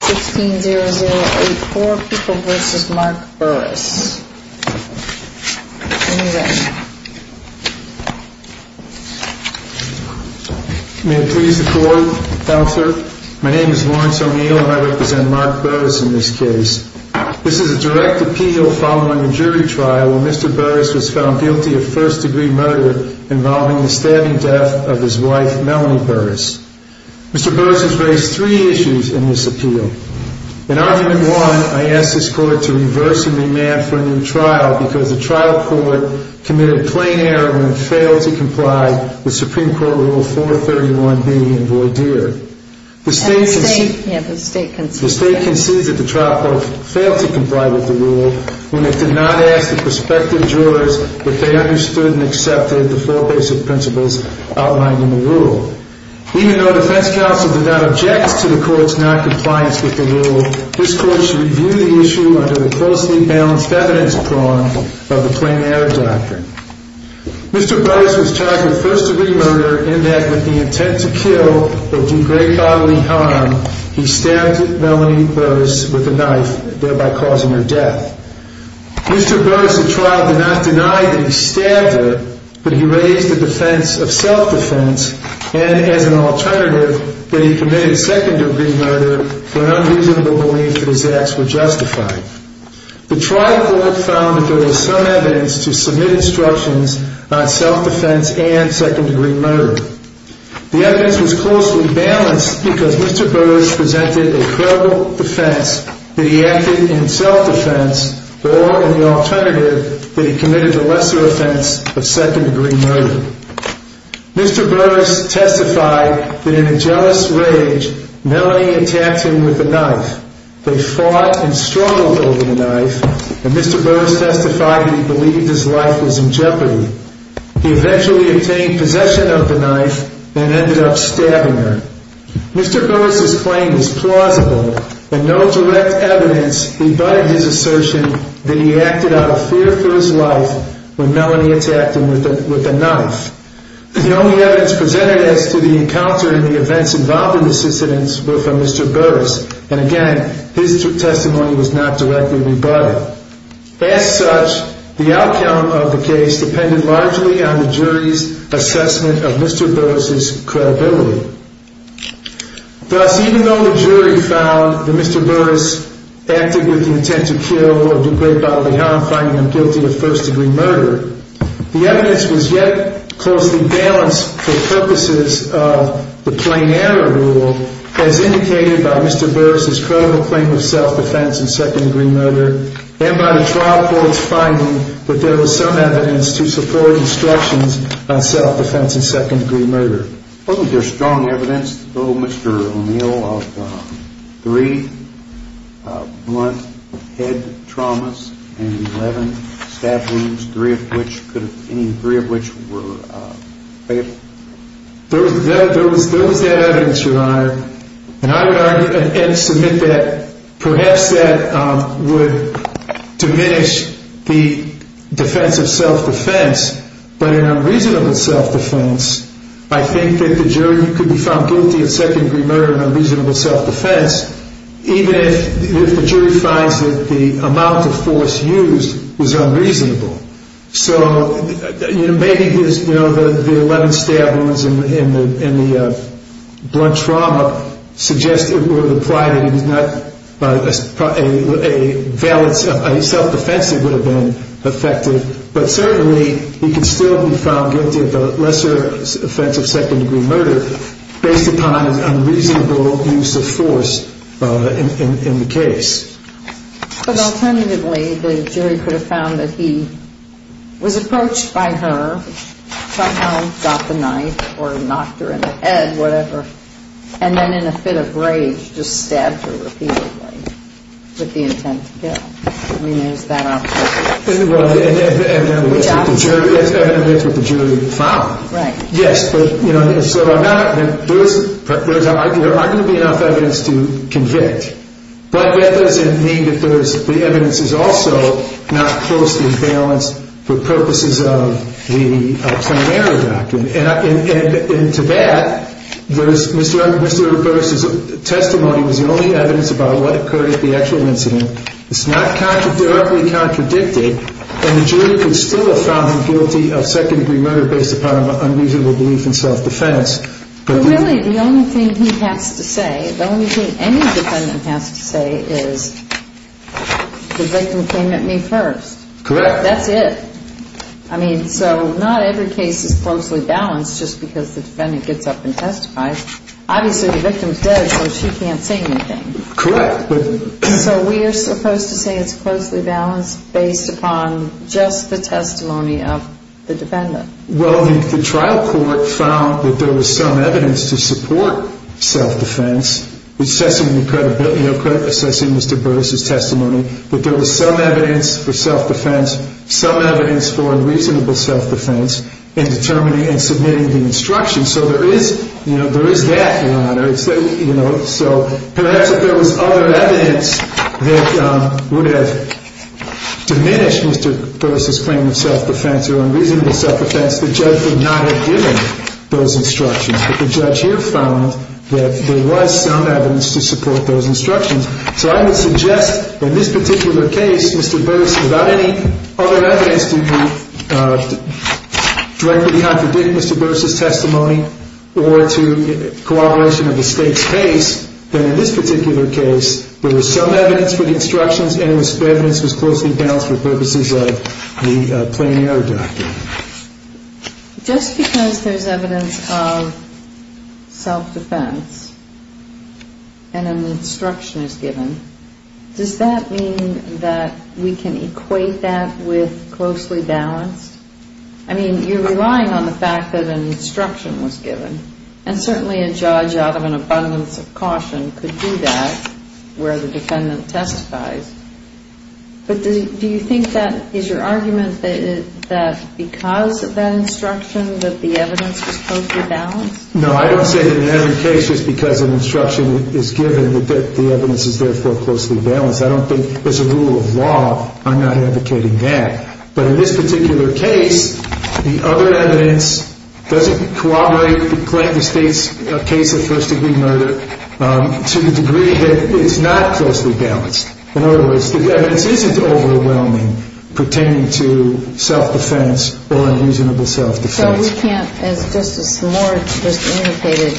May it please the court, Counselor, my name is Lawrence O'Neill and I represent Mark Burris in this case. This is a direct appeal following a jury trial where Mr. Burris was found guilty of first degree murder involving the stabbing death of his wife, Melanie Burris. Mr. Burris has raised three issues in this appeal. In argument one, I asked this court to reverse and remand for a new trial because the trial court committed a plain error when it failed to comply with Supreme Court Rule 431B in Voidere. The state concedes that the trial court failed to comply with the rule when it did not ask the prospective jurors if they understood and accepted the four basic principles outlined in the rule. Even though defense counsel did not object to the court's non-compliance with the rule, this court should review the issue under the closely balanced evidence prong of the plain error doctrine. Mr. Burris was charged with first degree murder in that with the intent to kill or do great bodily harm, he stabbed Melanie Burris with a knife, thereby causing her death. Mr. Burris at trial did not deny that he stabbed her, but he raised the defense of self-defense and, as an alternative, that he committed second degree murder for an unreasonable belief that his acts were justified. The trial court found that there was some evidence to submit instructions on self-defense and second degree murder. The evidence was closely balanced because Mr. Burris presented a credible defense that he acted in self-defense or, in the alternative, that he committed the lesser offense of second degree murder. Mr. Burris testified that in a jealous rage, Melanie attacked him with a knife. They fought and struggled over the knife, and Mr. Burris testified that he believed his life was in jeopardy. He eventually obtained possession of the knife and ended up stabbing her. Mr. Burris' claim is plausible, and no direct evidence rebutted his assertion that he acted out of fear for his life when Melanie attacked him with a knife. The only evidence presented as to the encounter and the events involved in this incident were from Mr. Burris, and again, his testimony was not directly rebutted. As such, the outcome of the case depended largely on the jury's assessment of Mr. Burris' credibility. Thus, even though the jury found that Mr. Burris acted with the intent to kill or do great bodily harm, finding him guilty of first degree murder, the evidence was yet closely balanced for purposes of the plain error rule as indicated by Mr. Burris' credible claim of self-defense and second degree murder, and by the trial court's finding that there was some evidence to support instructions on self-defense and second degree murder. Wasn't there strong evidence, though, Mr. O'Neill, of three blunt head traumas and 11 stab wounds, any three of which were fatal? There was that evidence, Your Honor, and I would argue and submit that perhaps that would diminish the defense of self-defense, but in unreasonable self-defense, I think that the jury could be found guilty of second degree murder in unreasonable self-defense, even if the jury finds that the amount of force used was unreasonable. So maybe the 11 stab wounds and the blunt trauma would imply that a self-defense would have been effective, but certainly he could still be found guilty of lesser offense of second degree murder based upon his unreasonable use of force in the case. But alternatively, the jury could have found that he was approached by her, somehow got the knife or knocked her in the head, whatever, and then in a fit of rage, just stabbed her repeatedly with the intent to kill. I mean, is that possible? Well, and evidence with the jury found. Right. Yes, but, you know, so there aren't going to be enough evidence to convict, but that doesn't mean that the evidence is also not closely balanced for purposes of the plenary document. And to that, Mr. Burris' testimony was the only evidence about what occurred at the actual incident. It's not directly contradicted. And the jury could still have found him guilty of second degree murder based upon an unreasonable belief in self-defense. But really, the only thing he has to say, the only thing any defendant has to say is the victim came at me first. Correct. That's it. I mean, so not every case is closely balanced just because the defendant gets up and testifies. Obviously, the victim is dead, so she can't say anything. Correct. So we are supposed to say it's closely balanced based upon just the testimony of the defendant. Well, the trial court found that there was some evidence to support self-defense, assessing Mr. Burris' testimony, that there was some evidence for self-defense, some evidence for unreasonable self-defense in determining and submitting the instruction. So there is that, Your Honor. So perhaps if there was other evidence that would have diminished Mr. Burris' claim of self-defense or unreasonable self-defense, the judge would not have given those instructions. But the judge here found that there was some evidence to support those instructions. So I would suggest in this particular case, Mr. Burris, without any other evidence to directly contradict Mr. Burris' testimony or to corroboration of the state's case, that in this particular case there was some evidence for the instructions and there was evidence that was closely balanced for purposes of the plain error document. Just because there's evidence of self-defense and an instruction is given, does that mean that we can equate that with closely balanced? I mean, you're relying on the fact that an instruction was given. And certainly a judge out of an abundance of caution could do that where the defendant testifies. But do you think that is your argument that because of that instruction that the evidence was closely balanced? No, I don't say that in every case just because an instruction is given that the evidence is therefore closely balanced. I don't think as a rule of law I'm not advocating that. But in this particular case, the other evidence doesn't corroborate the plaintiff's case of first-degree murder to the degree that it's not closely balanced. In other words, the evidence isn't overwhelming pertaining to self-defense or unreasonable self-defense. So we can't, as Justice Moore just indicated,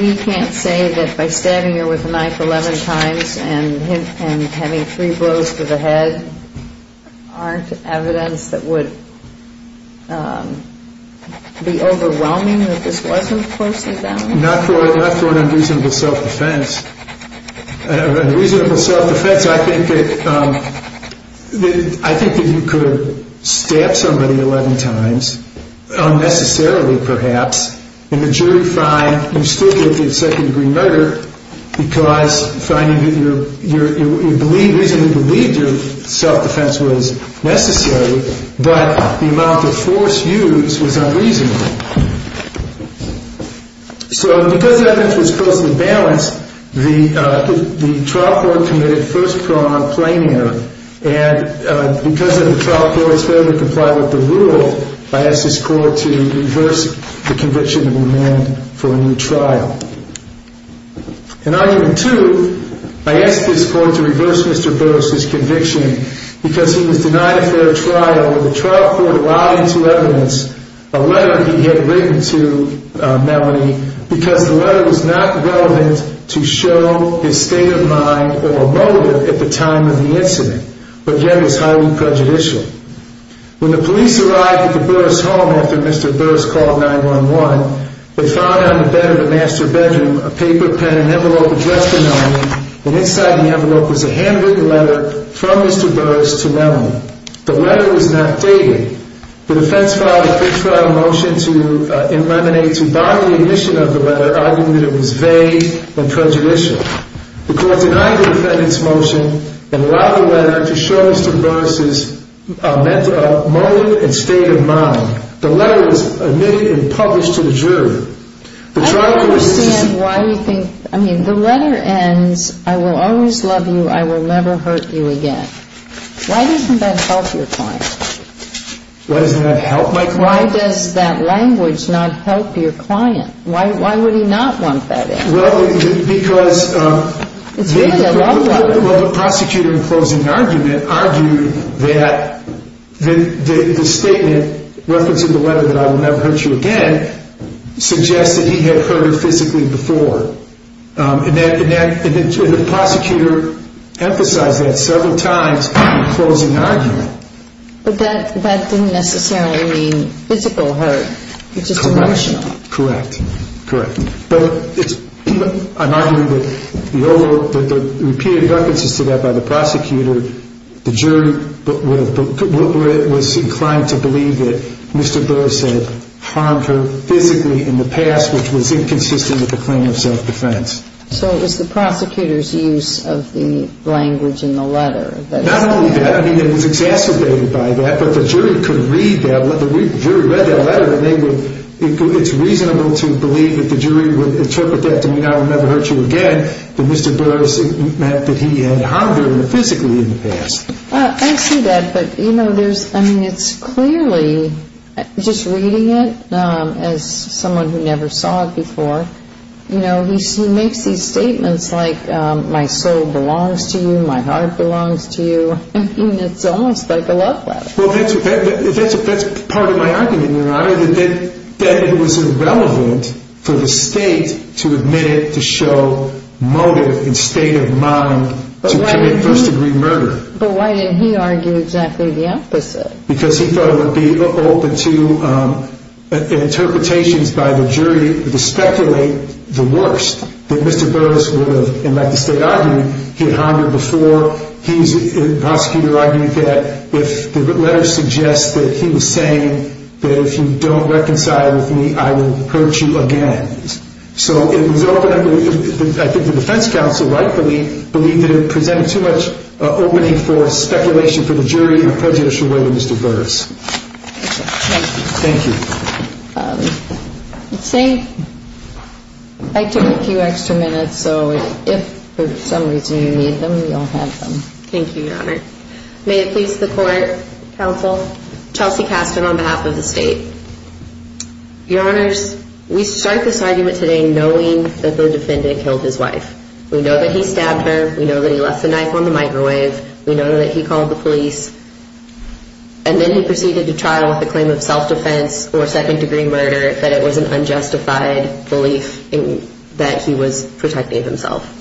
we can't say that by stabbing her with a knife 11 times and having three blows to the head aren't evidence that would be overwhelming that this wasn't closely balanced? Not for an unreasonable self-defense. A reasonable self-defense, I think that you could stab somebody 11 times unnecessarily, perhaps, and the jury find you still get the second-degree murder because finding that you reasonably believed your self-defense was necessary, but the amount of force used was unreasonable. So because the evidence was closely balanced, the trial court committed first-pronged plaintiff, and because the trial court is fairly complied with the rule, I ask this court to reverse the conviction and amend for a new trial. In argument two, I ask this court to reverse Mr. Burroughs' conviction because he was denied a fair trial when the trial court allowed him to evidence a letter he had written to Melanie because the letter was not relevant to show his state of mind or motive at the time of the incident, but yet was highly prejudicial. When the police arrived at the Burroughs' home after Mr. Burroughs called 911, they found on the bed of the master bedroom a paper, pen, and envelope addressed to Melanie, and inside the envelope was a handwritten letter from Mr. Burroughs to Melanie. The letter was not dated. The defense filed a fair trial motion to eliminate, to bind the omission of the letter, arguing that it was vague and prejudicial. The court denied the defendant's motion and allowed the letter to show Mr. Burroughs' motive and state of mind. The letter was omitted and published to the jury. The trial court is... I don't understand why you think... I mean, the letter ends, I will always love you, I will never hurt you again. Why doesn't that help your client? Why doesn't that help my client? Why does that language not help your client? Why would he not want that end? Well, because... It's really a love letter. Well, the prosecutor in closing argument argued that the statement, reference to the letter that I will never hurt you again, suggests that he had hurt her physically before. And the prosecutor emphasized that several times in the closing argument. But that didn't necessarily mean physical hurt. It's just emotional. Correct. Correct. But I'm arguing that the repeated references to that by the prosecutor, the jury was inclined to believe that Mr. Burroughs had harmed her physically in the past, which was inconsistent with the claim of self-defense. So it was the prosecutor's use of the language in the letter that... Not only that. I mean, it was exacerbated by that. But the jury could read that. The jury read that letter and they would... It's reasonable to believe that the jury would interpret that to mean I will never hurt you again, but Mr. Burroughs meant that he had harmed her physically in the past. I see that. I mean, it's clearly, just reading it as someone who never saw it before, he makes these statements like my soul belongs to you, my heart belongs to you. I mean, it's almost like a love letter. That's part of my argument, Your Honor, that it was irrelevant for the state to admit it to show motive and state of mind to commit first-degree murder. But why did he argue exactly the opposite? Because he thought it would be open to interpretations by the jury to speculate the worst, that Mr. Burroughs would have, like the state argued, he had harmed her before. He, the prosecutor, argued that if the letter suggests that he was saying that if you don't reconcile with me, I will hurt you again. So it was open, I think the defense counsel, rightfully, believed that it presented too much opening for speculation for the jury and prejudice for whether Mr. Burroughs. Thank you. Thank you. Let's see. I took a few extra minutes, so if for some reason you need them, you'll have them. Thank you, Your Honor. May it please the court, counsel, Chelsea Kasten on behalf of the state. Your Honors, we start this argument today knowing that the defendant killed his wife. We know that he stabbed her. We know that he left the knife on the microwave. We know that he called the police. And then he proceeded to trial with the claim of self-defense or second-degree murder, that it was an unjustified belief that he was protecting himself.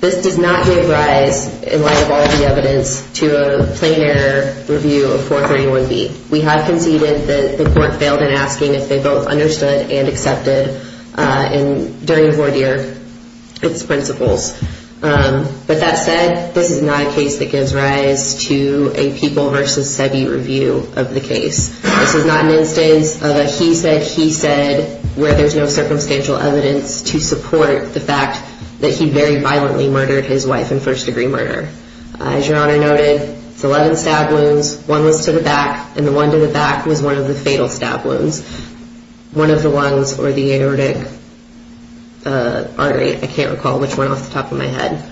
This does not give rise, in light of all the evidence, to a plain error review of 431B. We have conceded that the court failed in asking if they both understood and accepted, during the court year, its principles. But that said, this is not a case that gives rise to a people versus SEBI review of the case. This is not an instance of a he said, he said, where there's no circumstantial evidence to support the fact that he very violently murdered his wife in first-degree murder. As Your Honor noted, it's 11 stab wounds. One was to the back, and the one to the back was one of the fatal stab wounds. One of the ones were the aortic artery. I can't recall which one off the top of my head.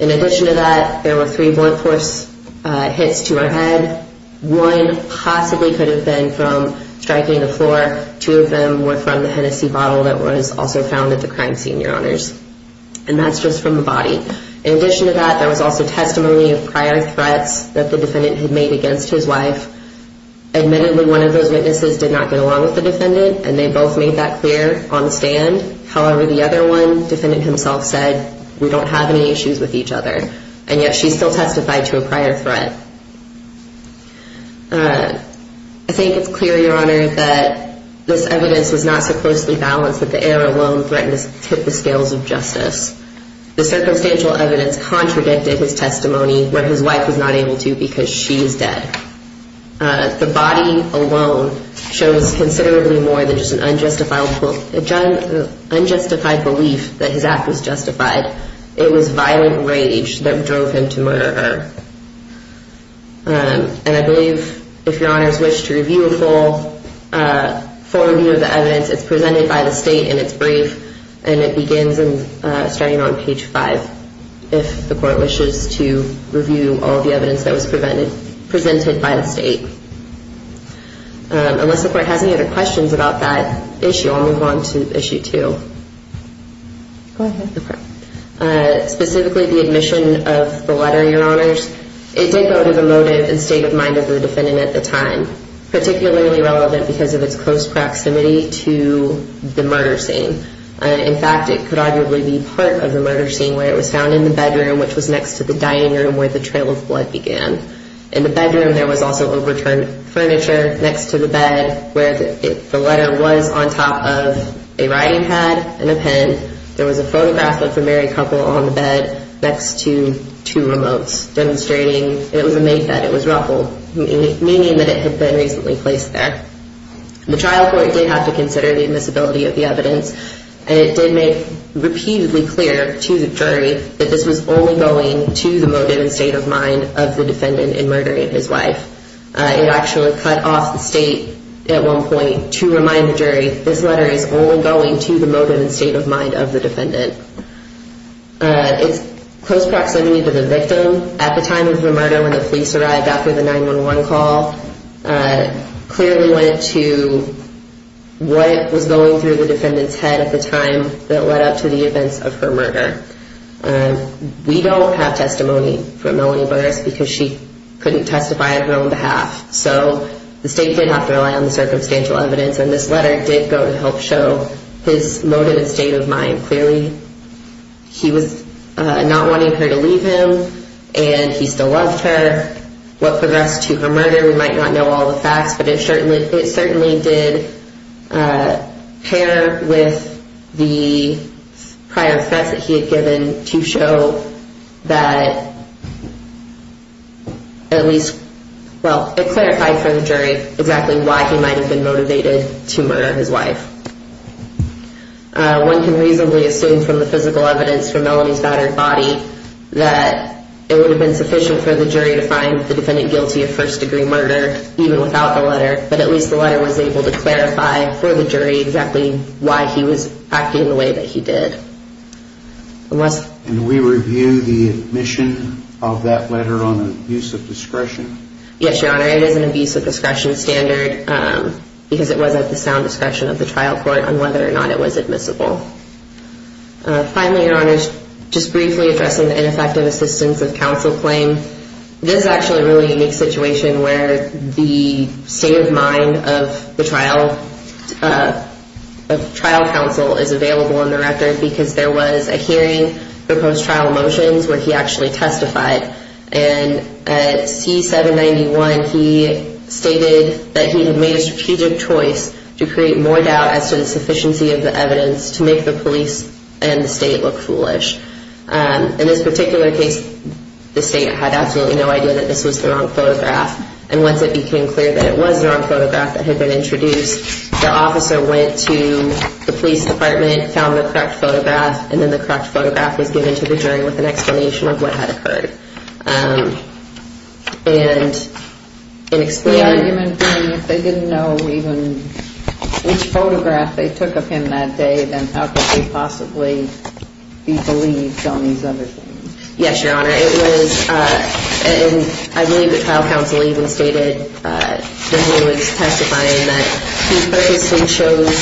In addition to that, there were three blunt force hits to her head. One possibly could have been from striking the floor. Two of them were from the Hennessy bottle that was also found at the crime scene, Your Honors. And that's just from the body. In addition to that, there was also testimony of prior threats that the defendant had made against his wife. Admittedly, one of those witnesses did not get along with the defendant, and they both made that clear on the stand. However, the other one, the defendant himself said, we don't have any issues with each other. And yet, she still testified to a prior threat. I think it's clear, Your Honor, that this evidence was not so closely balanced that the heir alone threatened to tip the scales of justice. The circumstantial evidence contradicted his testimony when his wife was not able to because she was dead. The body alone shows considerably more than just an unjustified belief that his act was justified. It was violent rage that drove him to murder her. And I believe, if Your Honors wish to review a full review of the evidence, it's presented by the state in its brief, and it begins starting on page 5, if the court wishes to review all the evidence that was presented by the state. Unless the court has any other questions about that issue, I'll move on to issue 2. Go ahead. Specifically, the admission of the letter, Your Honors. It did go to the motive and state of mind of the defendant at the time, particularly relevant because of its close proximity to the murder scene. In fact, it could arguably be part of the murder scene where it was found in the bedroom, which was next to the dining room where the trail of blood began. In the bedroom, there was also overturned furniture next to the bed where the letter was on top of a writing pad and a pen. There was a photograph of the married couple on the bed next to two remotes, demonstrating it was a maid bed. It was ruffled, meaning that it had been recently placed there. The trial court did have to consider the admissibility of the evidence, and it did make repeatedly clear to the jury that this was only going to the motive and state of mind of the defendant in murdering his wife. It actually cut off the state at one point to remind the jury this letter is only going to the motive and state of mind of the defendant. Its close proximity to the victim at the time of the murder when the police arrived after the 911 call clearly went to what was going through the defendant's head at the time that led up to the events of her murder. We don't have testimony from Melanie Burris because she couldn't testify on her own behalf, so the state did have to rely on the circumstantial evidence, and this letter did go to help show his motive and state of mind. Clearly he was not wanting her to leave him, and he still loved her. What progressed to her murder, we might not know all the facts, but it certainly did pair with the prior threats that he had given to show that at least, well, it clarified for the jury exactly why he might have been motivated to murder his wife. One can reasonably assume from the physical evidence from Melanie's battered body that it would have been sufficient for the jury to find the defendant guilty of first degree murder even without the letter, but at least the letter was able to clarify for the jury exactly why he was acting the way that he did. Can we review the admission of that letter on abuse of discretion? Yes, Your Honor, it is an abuse of discretion standard because it was at the sound discretion of the trial court on whether or not it was admissible. Finally, Your Honor, just briefly addressing the ineffective assistance of counsel claim, this is actually a really unique situation where the state of mind of the trial counsel is available in the record because there was a hearing for post-trial motions where he actually testified, and at C-791 he stated that he had made a strategic choice to create more doubt as to the sufficiency of the evidence to make the police and the state look foolish. In this particular case, the state had absolutely no idea that this was the wrong photograph, and once it became clear that it was the wrong photograph that had been introduced, the officer went to the police department, found the correct photograph, and then the correct photograph was given to the jury with an explanation of what had occurred. And in explaining... The argument being if they didn't know even which photograph they took of him that day, then how could they possibly be believed on these other things? Yes, Your Honor, it was, and I believe the trial counsel even stated that he was testifying that he purposely chose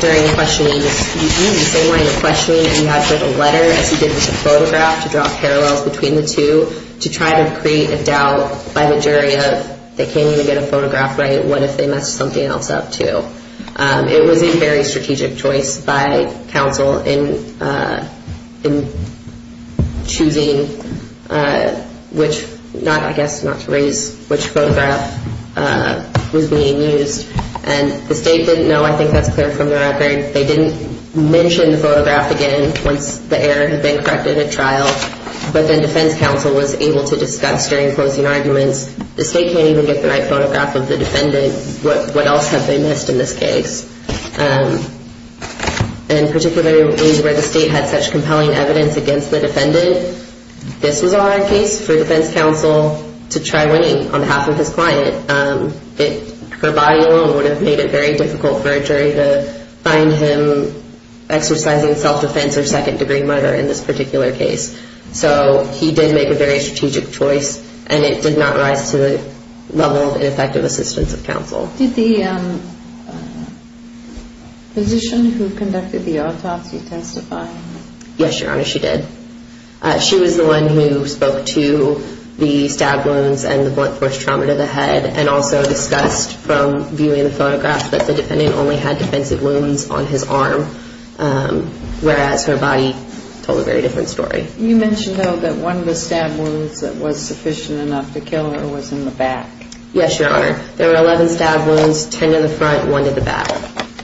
during the questioning to use the same line of questioning that he had for the letter as he did with the photograph to draw parallels between the two to try to create a doubt by the jury of they can't even get a photograph right, what if they messed something else up too? It was a very strategic choice by counsel in choosing which, I guess not to raise which photograph was being used, and the state didn't know, I think that's clear from the record, they didn't mention the photograph again once the error had been corrected at trial, but then defense counsel was able to discuss during closing arguments, the state can't even get the right photograph of the defendant, what else have they missed in this case? And particularly where the state had such compelling evidence against the defendant, this was a hard case for defense counsel to try winning on behalf of his client. Her body alone would have made it very difficult for a jury to find him exercising self-defense or second-degree murder in this particular case. So he did make a very strategic choice, and it did not rise to the level of ineffective assistance of counsel. Did the physician who conducted the autopsy testify? Yes, Your Honor, she did. She was the one who spoke to the stab wounds and the blunt force trauma to the head, and also discussed from viewing the photograph that the defendant only had defensive wounds on his arm, whereas her body told a very different story. You mentioned, though, that one of the stab wounds that was sufficient enough to kill her was in the back. Yes, Your Honor. There were 11 stab wounds, 10 in the front, one in the back,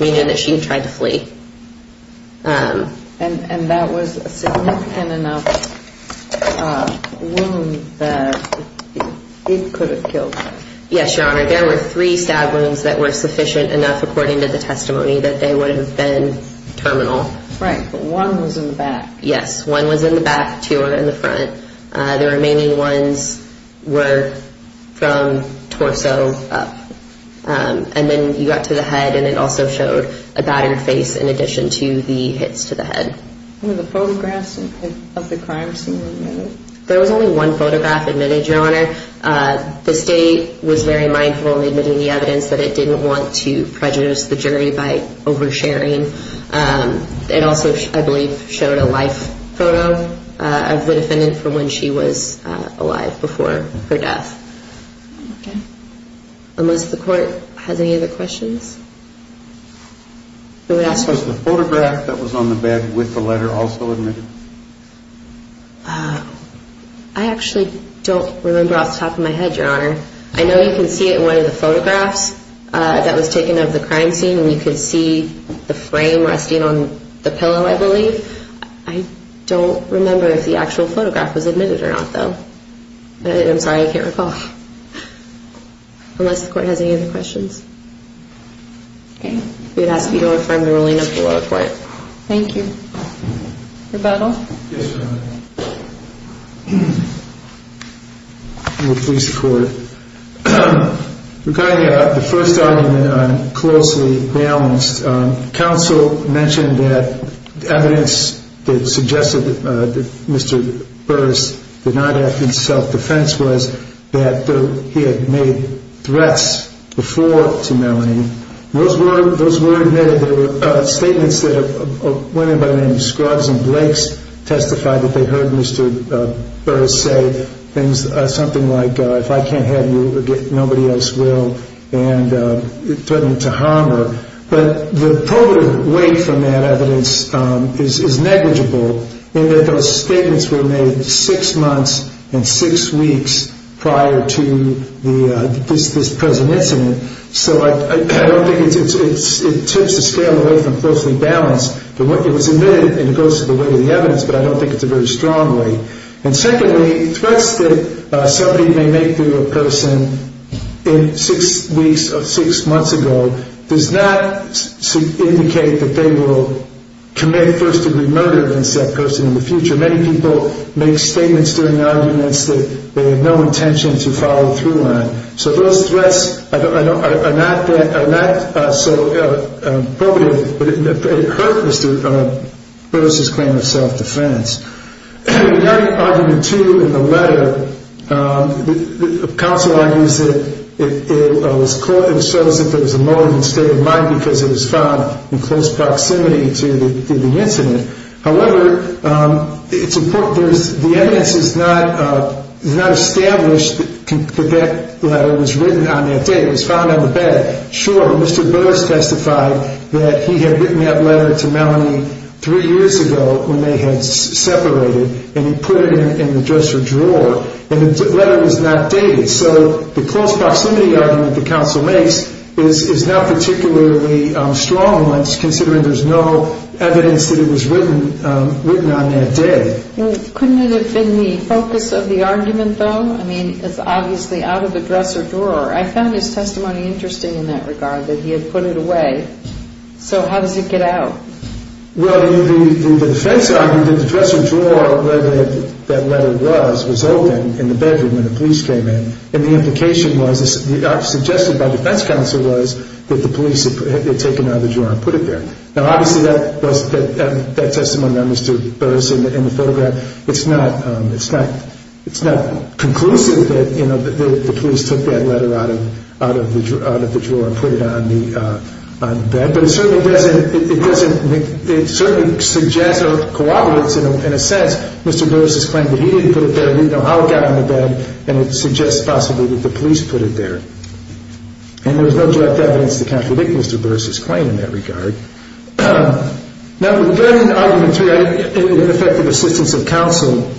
meaning that she tried to flee. And that was a significant enough wound that it could have killed her. Yes, Your Honor. There were three stab wounds that were sufficient enough, according to the testimony, that they would have been terminal. Right, but one was in the back. Yes, one was in the back, two were in the front. The remaining ones were from torso up. And then you got to the head, and it also showed a battered face in addition to the hits to the head. Were the photographs of the crimes seen or admitted? There was only one photograph admitted, Your Honor. The state was very mindful in admitting the evidence that it didn't want to prejudice the jury by oversharing. It also, I believe, showed a life photo of the defendant from when she was alive before her death. Okay. Unless the court has any other questions? We would ask you. Was the photograph that was on the bed with the letter also admitted? I actually don't remember off the top of my head, Your Honor. I know you can see it in one of the photographs that was taken of the crime scene, and you can see the frame resting on the pillow, I believe. I don't remember if the actual photograph was admitted or not, though. I'm sorry. I can't recall. Unless the court has any other questions? Okay. We would ask that you don't affirm the ruling of the lower court. Thank you. Rebuttal? Yes, Your Honor. I will please the court. Regarding the first argument, I'm closely balanced. Counsel mentioned that evidence that suggested that Mr. Burris did not act in self-defense was that he had made threats before to Melanie. Those were admitted. There were statements that a woman by the name of Scruggs and Blakes testified that they heard Mr. Burris say things, something like, if I can't have you, nobody else will, and threatened to harm her. But the probative weight from that evidence is negligible, in that those statements were made six months and six weeks prior to this present incident. So I don't think it tips the scale away from closely balanced. It was admitted, and it goes to the weight of the evidence, but I don't think it's a very strong weight. And secondly, threats that somebody may make to a person six weeks or six months ago does not indicate that they will commit first-degree murder against that person in the future. Many people make statements during arguments that they have no intention to follow through on. So those threats are not so probative, but they hurt Mr. Burris' claim of self-defense. In argument two in the letter, the counsel argues that it shows that there was a motive and state of mind because it was found in close proximity to the incident. However, the evidence is not established that that letter was written on that day. It was found on the bed. Sure, Mr. Burris testified that he had written that letter to Melanie three years ago when they had separated, and he put it in the dresser drawer, and the letter was not dated. So the close proximity argument the counsel makes is not particularly strong considering there's no evidence that it was written on that day. Couldn't it have been the focus of the argument, though? I mean, it's obviously out of the dresser drawer. I found his testimony interesting in that regard, that he had put it away. So how does it get out? Well, the defense argument that the dresser drawer where that letter was was open in the bedroom when the police came in, and the implication was suggested by defense counsel was that the police had taken it out of the drawer and put it there. Now, obviously, that testimony by Mr. Burris in the photograph, it's not conclusive that the police took that letter out of the drawer and put it on the bed, but it certainly suggests or corroborates in a sense Mr. Burris's claim that he didn't put it there, he didn't know how it got on the bed, and it suggests possibly that the police put it there. And there was no direct evidence to contradict Mr. Burris's claim in that regard. Now, regarding argument three, I think it affected the assistance of counsel.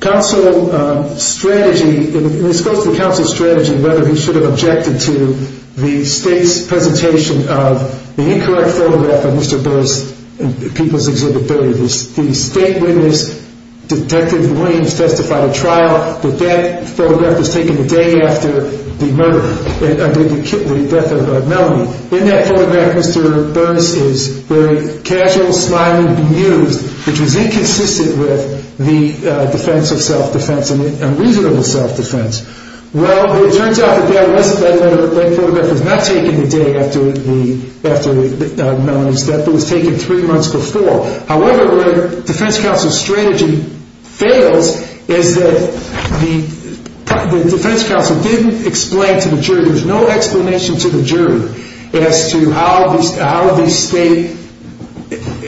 Counsel's strategy, and this goes to the counsel's strategy, whether he should have objected to the state's presentation of the incorrect photograph of Mr. Burris in People's Exhibit 30. The state witness, Detective Williams, testified at trial that that photograph was taken the day after the murder, the death of Melanie. In that photograph, Mr. Burris is very casual, smiling, bemused, which was inconsistent with the defense of self-defense and reasonable self-defense. Well, it turns out that that photograph was not taken the day after Melanie's death. It was taken three months before. However, where defense counsel's strategy fails is that the defense counsel didn't explain to the jury, there was no explanation to the jury as to how the state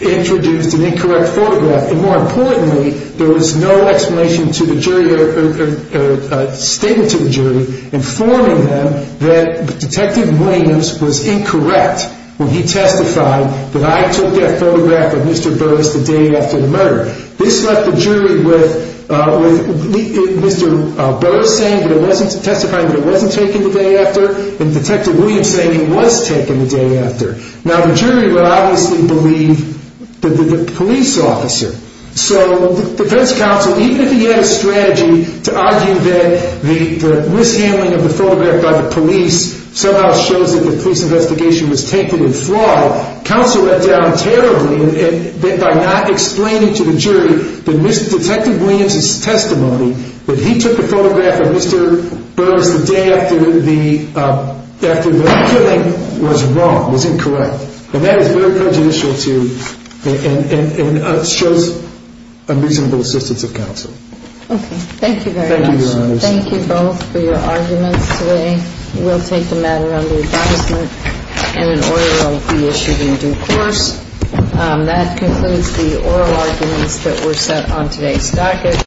introduced an incorrect photograph. And more importantly, there was no explanation to the jury or statement to the jury informing them that Detective Williams was incorrect when he testified that I took that photograph of Mr. Burris the day after the murder. This left the jury with Mr. Burris testifying that it wasn't taken the day after and Detective Williams saying it was taken the day after. Now, the jury would obviously believe the police officer. So defense counsel, even if he had a strategy to argue that the mishandling of the photograph by the police somehow shows that the police investigation was taken in fraud, counsel let down terribly by not explaining to the jury that Mr. Detective Williams' testimony that he took the photograph of Mr. Burris the day after the killing was wrong, was incorrect. And that is very prejudicial and shows unreasonable assistance of counsel. Okay. Thank you very much. Thank you, Your Honors. Thank you both for your arguments today. We'll take the matter under advisement and an order will be issued in due course. That concludes the oral arguments that were set on today's docket.